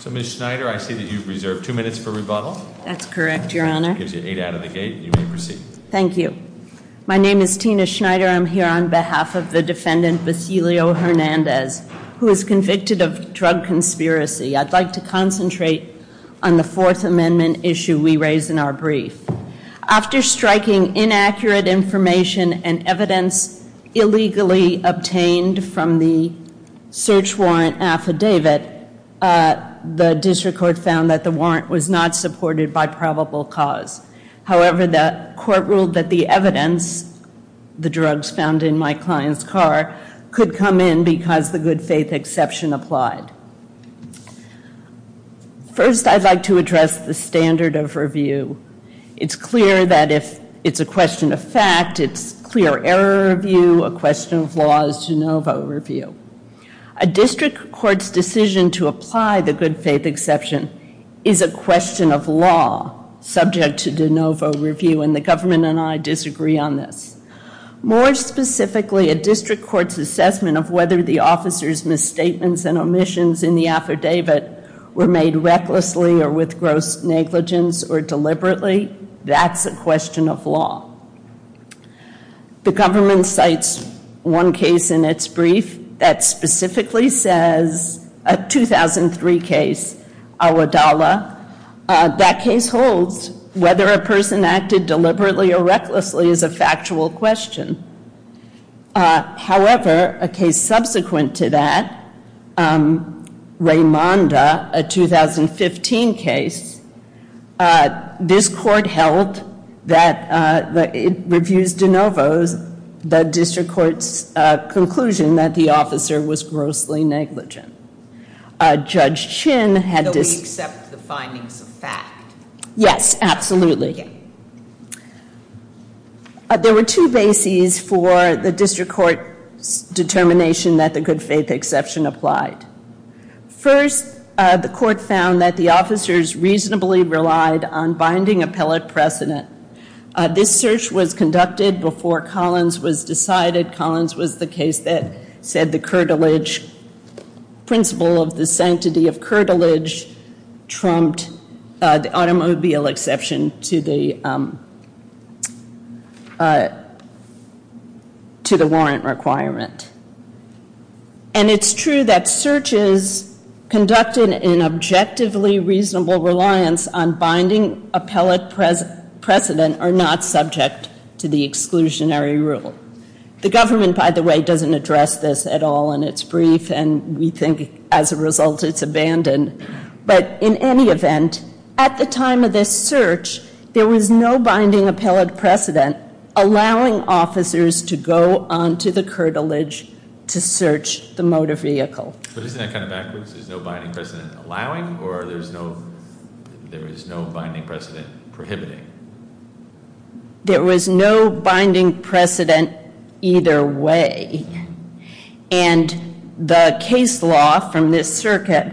So, Ms. Schneider, I see that you've reserved two minutes for rebuttals, so I'm going to give you eight out of the gate. You may proceed. Ms. Schneider Thank you. My name is Tina Schneider. I'm here on behalf of the defendant, Basilio Hernandez, who is convicted of drug conspiracy. I'd like to concentrate on the Fourth Amendment issue we raised in our brief. After striking inaccurate information and evidence illegally obtained from the search warrant affidavit, the district court found that the warrant was not supported by probable cause. However, the court ruled that the evidence, the drugs found in my client's car, could come in because the good faith exception applied. First, I'd like to address the standard of review. It's clear that if it's a question of fact, it's clear error review. A question of law is de novo review. A district court's decision to apply the good faith exception is a question of law, subject to de novo review, and the government and I disagree on this. More specifically, a district court's assessment of whether the officer's misstatements and omissions in the affidavit were made recklessly or with gross negligence or deliberately, that's a question of law. The government cites one case in its brief that specifically says, a 2003 case, Awadallah. That case holds whether a person acted deliberately or recklessly is a factual question. However, a case subsequent to that, Raimonda, a 2015 case, this court held that it reviews de novos, the district court's conclusion that the officer was grossly negligent. Judge Chin had this- So we accept the findings of fact? Yes, absolutely. There were two bases for the district court's determination that the good faith exception applied. First, the court found that the officers reasonably relied on binding appellate precedent. This search was conducted before Collins was decided. Collins was the case that said the curtilage principle of the sanctity of curtilage trumped the automobile exception to the warrant requirement. And it's true that searches conducted in objectively reasonable reliance on binding appellate precedent are not subject to the exclusionary rule. The government, by the way, doesn't address this at all in its brief, and we think as a result it's abandoned. But in any event, at the time of this search, there was no binding appellate precedent allowing officers to go onto the curtilage to search the motor vehicle. But isn't that kind of backwards? There's no binding precedent allowing, or there is no binding precedent prohibiting? There was no binding precedent either way. And the case law from this circuit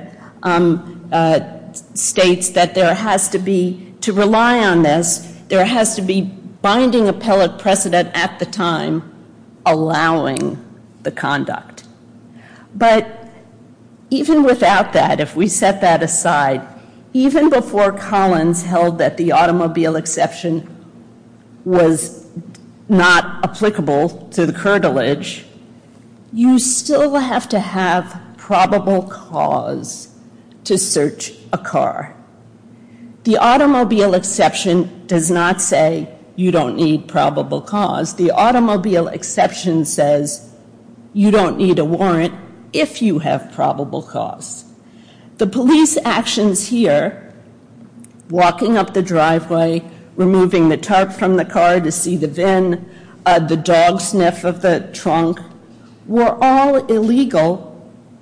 states that there has to be, to rely on this, there has to be binding appellate precedent at the time allowing the conduct. But even without that, if we set that aside, even before Collins held that the automobile exception was not applicable to the curtilage, you still have to have probable cause to search a car. The automobile exception does not say you don't need probable cause. The automobile exception says you don't need a warrant if you have probable cause. The police actions here, walking up the driveway, removing the tarp from the car to see the van, the dog sniff of the trunk, were all illegal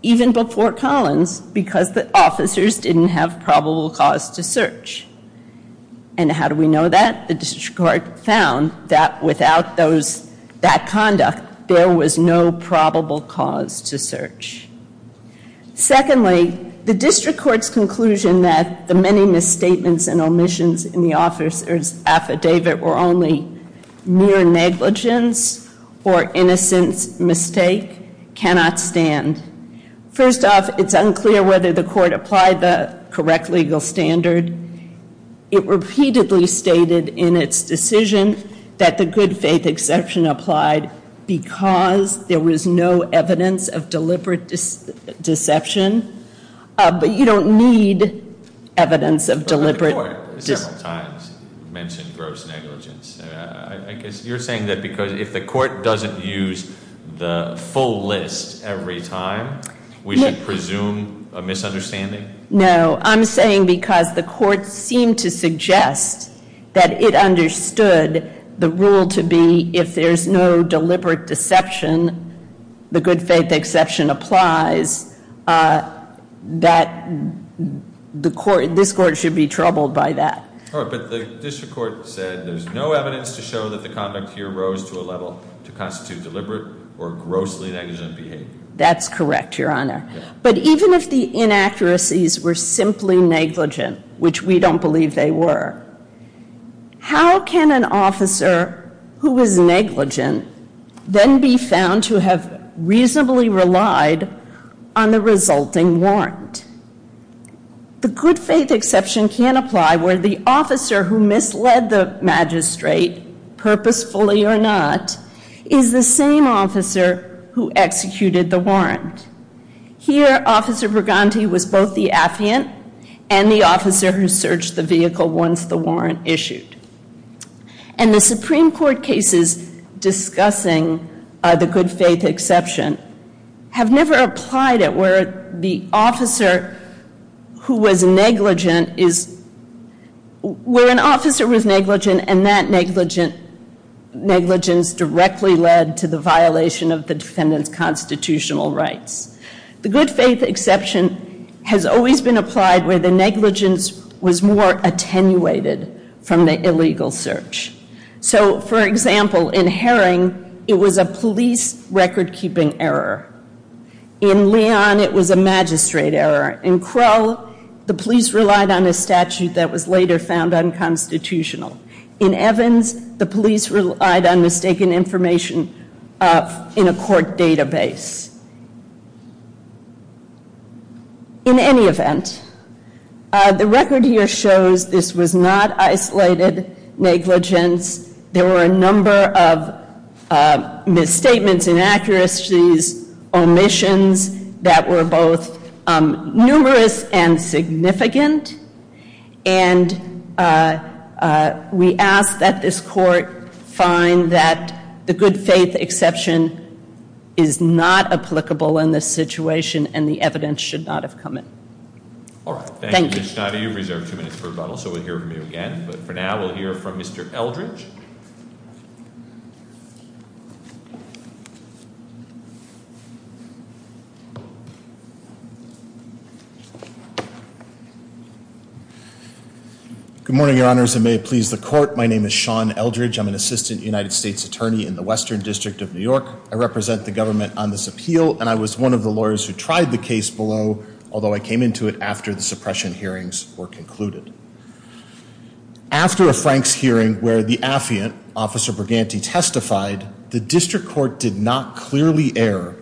even before Collins because the officers didn't have probable cause to search. And how do we know that? The district court found that without that conduct, there was no probable cause to search. Secondly, the district court's conclusion that the many misstatements and omissions in the officer's affidavit were only mere negligence or innocent mistake cannot stand. First off, it's unclear whether the court applied the correct legal standard. It repeatedly stated in its decision that the good faith exception applied because there was no evidence of deliberate deception. But you don't need evidence of deliberate- The court several times mentioned gross negligence. I guess you're saying that because if the court doesn't use the full list every time, we should presume a misunderstanding? No, I'm saying because the court seemed to suggest that it understood the rule to be if there's no deliberate deception, the good faith exception applies, that this court should be troubled by that. All right, but the district court said there's no evidence to show that the conduct here rose to a level to constitute deliberate or grossly negligent behavior. That's correct, Your Honor. But even if the inaccuracies were simply negligent, which we don't believe they were, how can an officer who is negligent then be found to have reasonably relied on the resulting warrant? The good faith exception can apply where the officer who misled the magistrate, purposefully or not, is the same officer who executed the warrant. Here, Officer Burganti was both the affiant and the officer who searched the vehicle once the warrant issued. And the Supreme Court cases discussing the good faith exception have never applied at where an officer was negligent and that negligence directly led to the violation of the defendant's constitutional rights. The good faith exception has always been applied where the negligence was more attenuated from the illegal search. So, for example, in Herring, it was a police record-keeping error. In Leon, it was a magistrate error. In Krell, the police relied on a statute that was later found unconstitutional. In Evans, the police relied on mistaken information in a court database. In any event, the record here shows this was not isolated negligence. There were a number of misstatements, inaccuracies, omissions that were both numerous and significant. And we ask that this court find that the good faith exception is not applicable in this situation and the evidence should not have come in. All right. Thank you, Ms. Schneider. You've reserved two minutes for rebuttal, so we'll hear from you again. But for now, we'll hear from Mr. Eldridge. Good morning, your honors, and may it please the court. My name is Sean Eldridge. I'm an assistant United States attorney in the Western District of New York. I represent the government on this appeal, and I was one of the lawyers who tried the case below, although I came into it after the suppression hearings were concluded. After a Franks hearing where the affiant, Officer Briganti, testified, the district court did not clearly err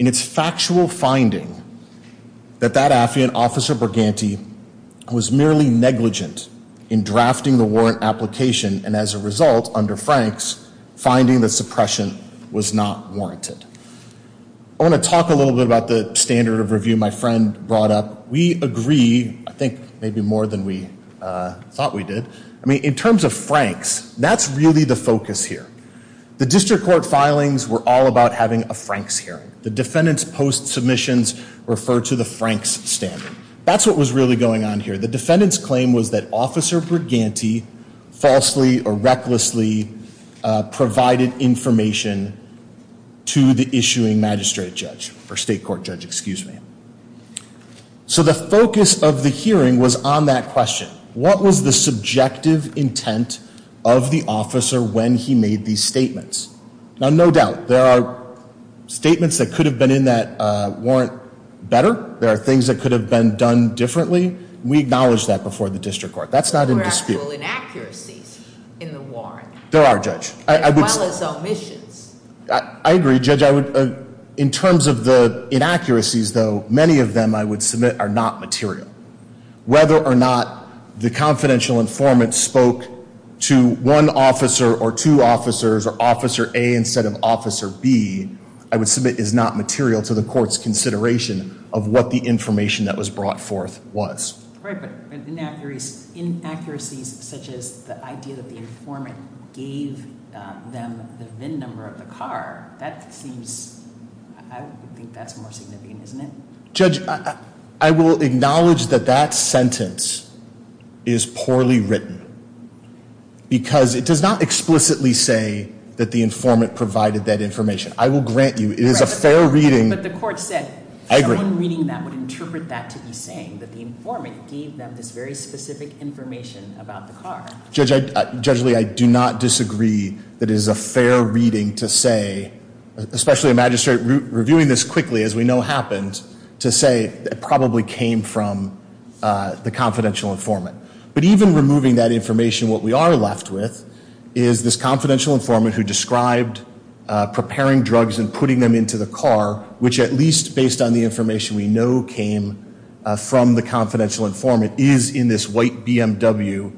in its factual finding that that affiant, Officer Briganti, was merely negligent in drafting the warrant application and as a result, under Franks, finding that suppression was not warranted. I want to talk a little bit about the standard of review my friend brought up. We agree, I think, maybe more than we thought we did. I mean, in terms of Franks, that's really the focus here. The district court filings were all about having a Franks hearing. The defendant's post submissions referred to the Franks standard. That's what was really going on here. The defendant's claim was that Officer Briganti falsely or recklessly provided information to the issuing magistrate judge, or state court judge, excuse me. So the focus of the hearing was on that question. What was the subjective intent of the officer when he made these statements? Now, no doubt, there are statements that could have been in that warrant better. There are things that could have been done differently. We acknowledge that before the district court. That's not in dispute. There were actual inaccuracies in the warrant. There are, Judge. As well as omissions. I agree, Judge. In terms of the inaccuracies, though, many of them, I would submit, are not material. Whether or not the confidential informant spoke to one officer or two officers, or Officer A instead of Officer B, I would submit is not material to the court's consideration of what the information that was brought forth was. Right, but inaccuracies such as the idea that the informant gave them the VIN number of the car, that seems, I would think that's more significant, isn't it? Judge, I will acknowledge that that sentence is poorly written because it does not explicitly say that the informant provided that information. I will grant you it is a fair reading. But the court said someone reading that would interpret that to be saying that the informant gave them this very specific information about the car. Judge Lee, I do not disagree that it is a fair reading to say, especially a magistrate reviewing this quickly, as we know happens, to say it probably came from the confidential informant. But even removing that information, what we are left with is this confidential informant who described preparing drugs and putting them into the car, which at least based on the information we know came from the confidential informant, is in this white BMW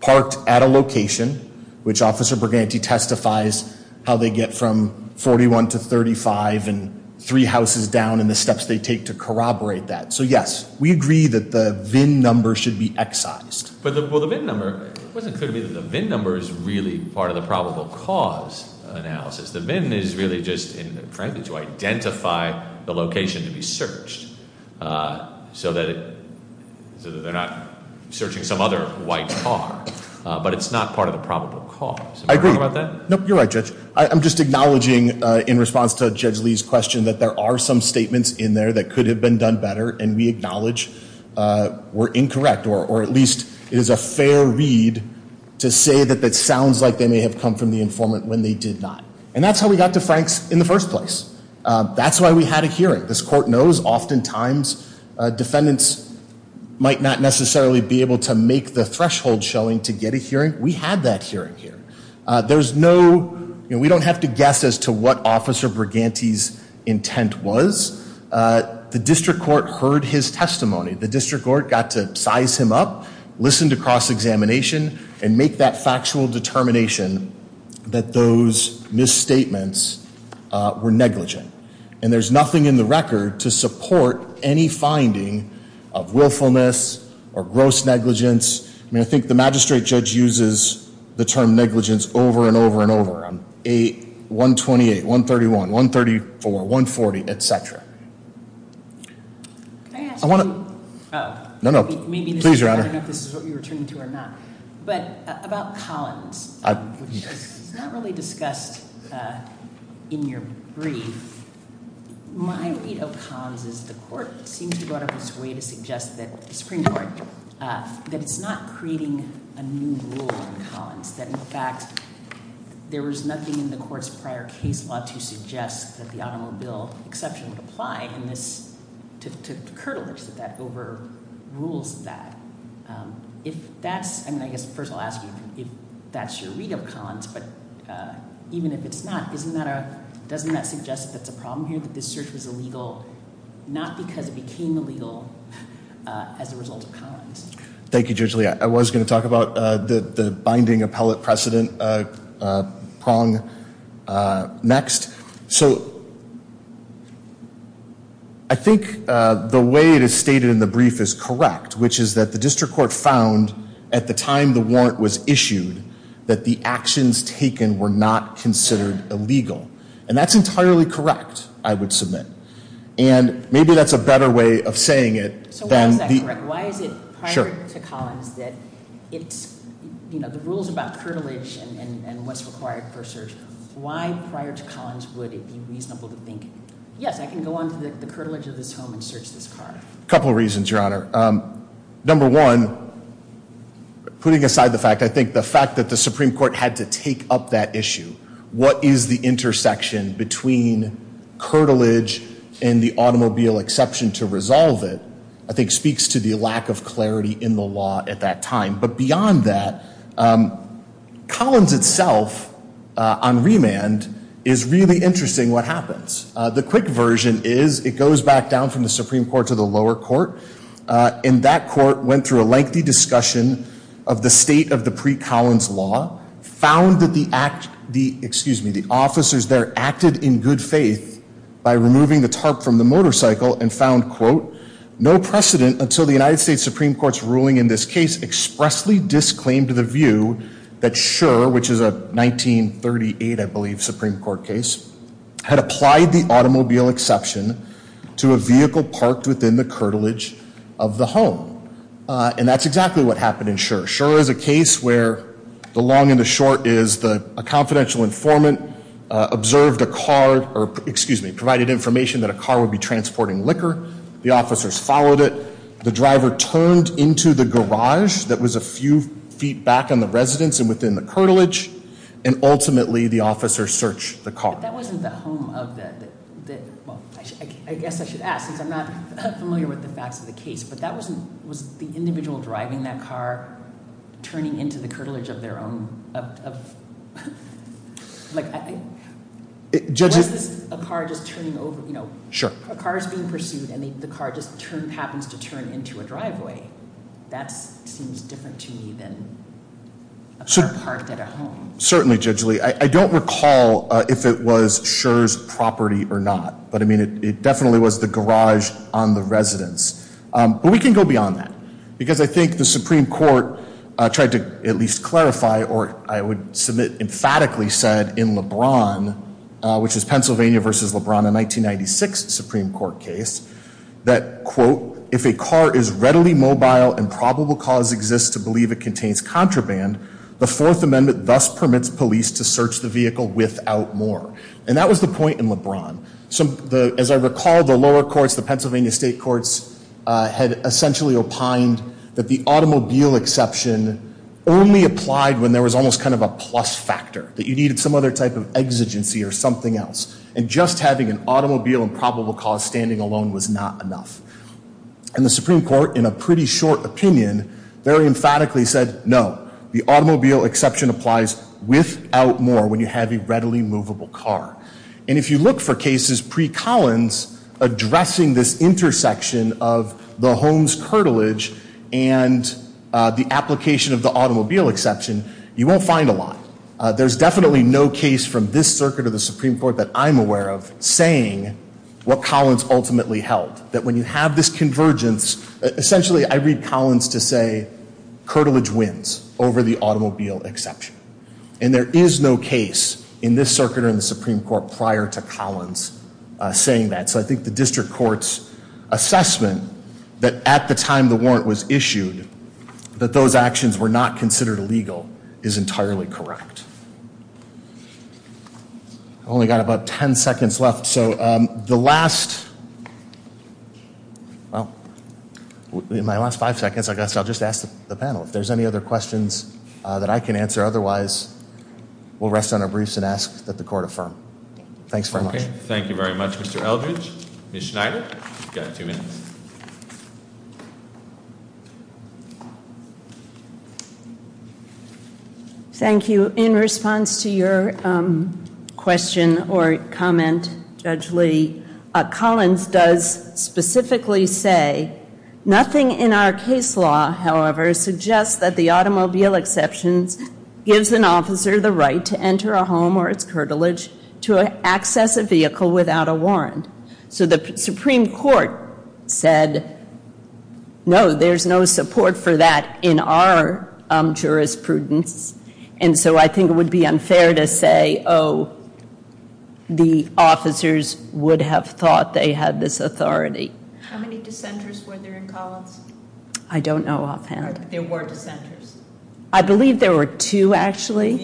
parked at a location, which Officer Briganti testifies how they get from 41 to 35 and three houses down and the steps they take to corroborate that. So, yes, we agree that the VIN number should be excised. Well, the VIN number, it wasn't clear to me that the VIN number is really part of the probable cause analysis. The VIN is really just, frankly, to identify the location to be searched so that they're not searching some other white car. But it's not part of the probable cause. I agree. You're right, Judge. I'm just acknowledging, in response to Judge Lee's question, that there are some statements in there that could have been done better and we acknowledge were incorrect or at least it is a fair read to say that that sounds like they may have come from the informant when they did not. And that's how we got to Franks in the first place. That's why we had a hearing. This court knows oftentimes defendants might not necessarily be able to make the threshold showing to get a hearing. We had that hearing here. There's no, you know, we don't have to guess as to what Officer Briganti's intent was. The district court heard his testimony. The district court got to size him up, listen to cross-examination, and make that factual determination that those misstatements were negligent. And there's nothing in the record to support any finding of willfulness or gross negligence. I mean, I think the magistrate judge uses the term negligence over and over and over. 128, 131, 134, 140, et cetera. Can I ask you? No, no. Please, Your Honor. I don't know if this is what you're returning to or not. But about Collins, which is not really discussed in your brief, my read of Collins is the court seems to go out of its way to suggest that the Supreme Court, that it's not creating a new rule in Collins, that, in fact, there was nothing in the court's prior case law to suggest that the automobile exception would apply to curtail this, that that overrules that. If that's, I mean, I guess first I'll ask you if that's your read of Collins, but even if it's not, doesn't that suggest that that's a problem here, that this search was illegal, as a result of Collins? Thank you, Judge Lee. I was going to talk about the binding appellate precedent prong next. So I think the way it is stated in the brief is correct, which is that the district court found at the time the warrant was issued that the actions taken were not considered illegal. And that's entirely correct, I would submit. And maybe that's a better way of saying it. So why is that correct? Why is it prior to Collins that it's, you know, the rules about curtilage and what's required for search, why prior to Collins would it be reasonable to think, yes, I can go on to the curtilage of this home and search this car? A couple of reasons, Your Honor. Number one, putting aside the fact, I think the fact that the Supreme Court had to take up that issue. What is the intersection between curtilage and the automobile exception to resolve it, I think speaks to the lack of clarity in the law at that time. But beyond that, Collins itself on remand is really interesting what happens. The quick version is it goes back down from the Supreme Court to the lower court, and that court went through a lengthy discussion of the state of the pre-Collins law, found that the officers there acted in good faith by removing the tarp from the motorcycle and found, quote, no precedent until the United States Supreme Court's ruling in this case expressly disclaimed the view that Schur, which is a 1938, I believe, Supreme Court case, had applied the automobile exception to a vehicle parked within the curtilage of the home. And that's exactly what happened in Schur. Schur is a case where the long and the short is a confidential informant observed a car, or excuse me, provided information that a car would be transporting liquor. The officers followed it. The driver turned into the garage that was a few feet back in the residence and within the curtilage, and ultimately the officers searched the car. But that wasn't the home of the, well, I guess I should ask since I'm not familiar with the facts of the case. But that wasn't, was the individual driving that car turning into the curtilage of their own, of, like, I think. Was this a car just turning over, you know. Sure. A car is being pursued and the car just happens to turn into a driveway. That seems different to me than a car parked at a home. Certainly, Judge Lee. I don't recall if it was Schur's property or not. But, I mean, it definitely was the garage on the residence. But we can go beyond that. Because I think the Supreme Court tried to at least clarify, or I would submit emphatically said in LeBron, which is Pennsylvania v. LeBron, a 1996 Supreme Court case, that, quote, if a car is readily mobile and probable cause exists to believe it contains contraband, the Fourth Amendment thus permits police to search the vehicle without more. And that was the point in LeBron. As I recall, the lower courts, the Pennsylvania state courts, had essentially opined that the automobile exception only applied when there was almost kind of a plus factor. That you needed some other type of exigency or something else. And just having an automobile and probable cause standing alone was not enough. And the Supreme Court, in a pretty short opinion, very emphatically said, no. The automobile exception applies without more when you have a readily movable car. And if you look for cases pre-Collins addressing this intersection of the Holmes curtilage and the application of the automobile exception, you won't find a lot. There's definitely no case from this circuit of the Supreme Court that I'm aware of saying what Collins ultimately held. That when you have this convergence, essentially I read Collins to say, curtilage wins over the automobile exception. And there is no case in this circuit or in the Supreme Court prior to Collins saying that. So I think the district court's assessment that at the time the warrant was issued, that those actions were not considered illegal, is entirely correct. I've only got about ten seconds left. So the last, well, in my last five seconds I guess I'll just ask the panel if there's any other questions that I can answer. Otherwise, we'll rest on our briefs and ask that the court affirm. Thanks very much. Thank you very much, Mr. Eldridge. Ms. Schneider, you've got two minutes. Thank you. In response to your question or comment, Judge Lee, Collins does specifically say, nothing in our case law, however, suggests that the automobile exception gives an officer the right to enter a home or its curtilage to access a vehicle without a warrant. So the Supreme Court said, no, there's no support for that in our jurisprudence. And so I think it would be unfair to say, oh, the officers would have thought they had this authority. How many dissenters were there in Collins? I don't know offhand. There were dissenters. I believe there were two, actually.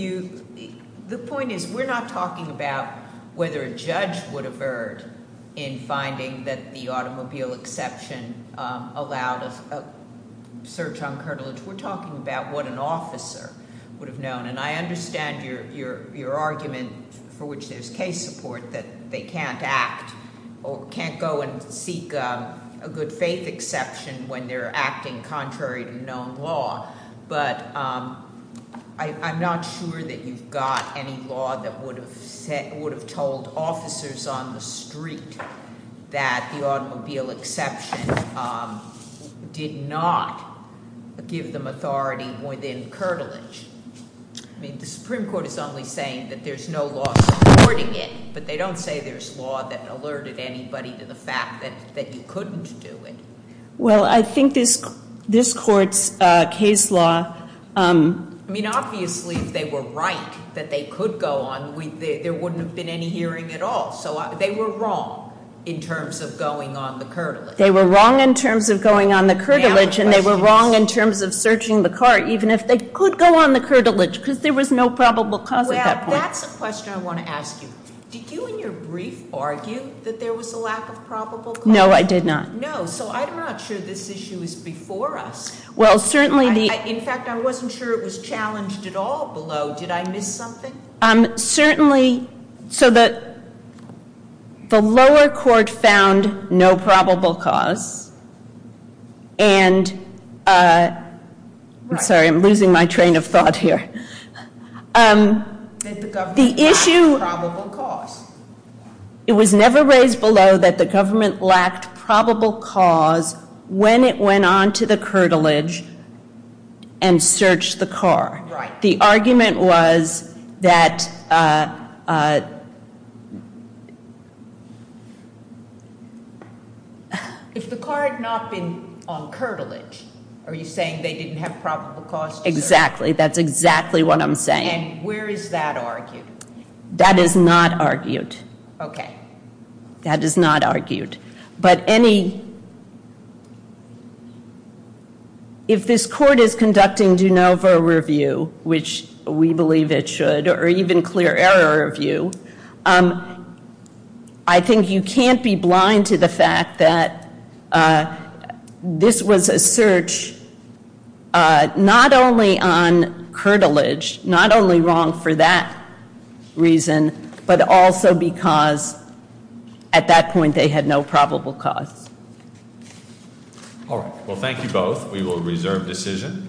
The point is, we're not talking about whether a judge would have erred in finding that the automobile exception allowed a search on curtilage. We're talking about what an officer would have known. And I understand your argument for which there's case support that they can't act or can't go and seek a good faith exception when they're acting contrary to known law. But I'm not sure that you've got any law that would have told officers on the street that the automobile exception did not give them authority within curtilage. I mean, the Supreme Court is only saying that there's no law supporting it. But they don't say there's law that alerted anybody to the fact that you couldn't do it. Well, I think this court's case law- I mean, obviously, if they were right that they could go on, there wouldn't have been any hearing at all. So they were wrong in terms of going on the curtilage. They were wrong in terms of going on the curtilage. And they were wrong in terms of searching the car, even if they could go on the curtilage, because there was no probable cause at that point. Well, that's a question I want to ask you. Did you, in your brief, argue that there was a lack of probable cause? No, I did not. No, so I'm not sure this issue was before us. Well, certainly the- In fact, I wasn't sure it was challenged at all below. Did I miss something? Certainly. So the lower court found no probable cause. And- I'm sorry, I'm losing my train of thought here. That the government lacked probable cause. It was never raised below that the government lacked probable cause when it went on to the curtilage and searched the car. Right. The argument was that- If the car had not been on curtilage, are you saying they didn't have probable cause to search? Exactly. That's exactly what I'm saying. And where is that argued? That is not argued. Okay. That is not argued. But any- If this court is conducting de novo review, which we believe it should, or even clear error review, I think you can't be blind to the fact that this was a search not only on curtilage, not only wrong for that reason, but also because at that point they had no probable cause. All right. Well, thank you both. We will reserve decision.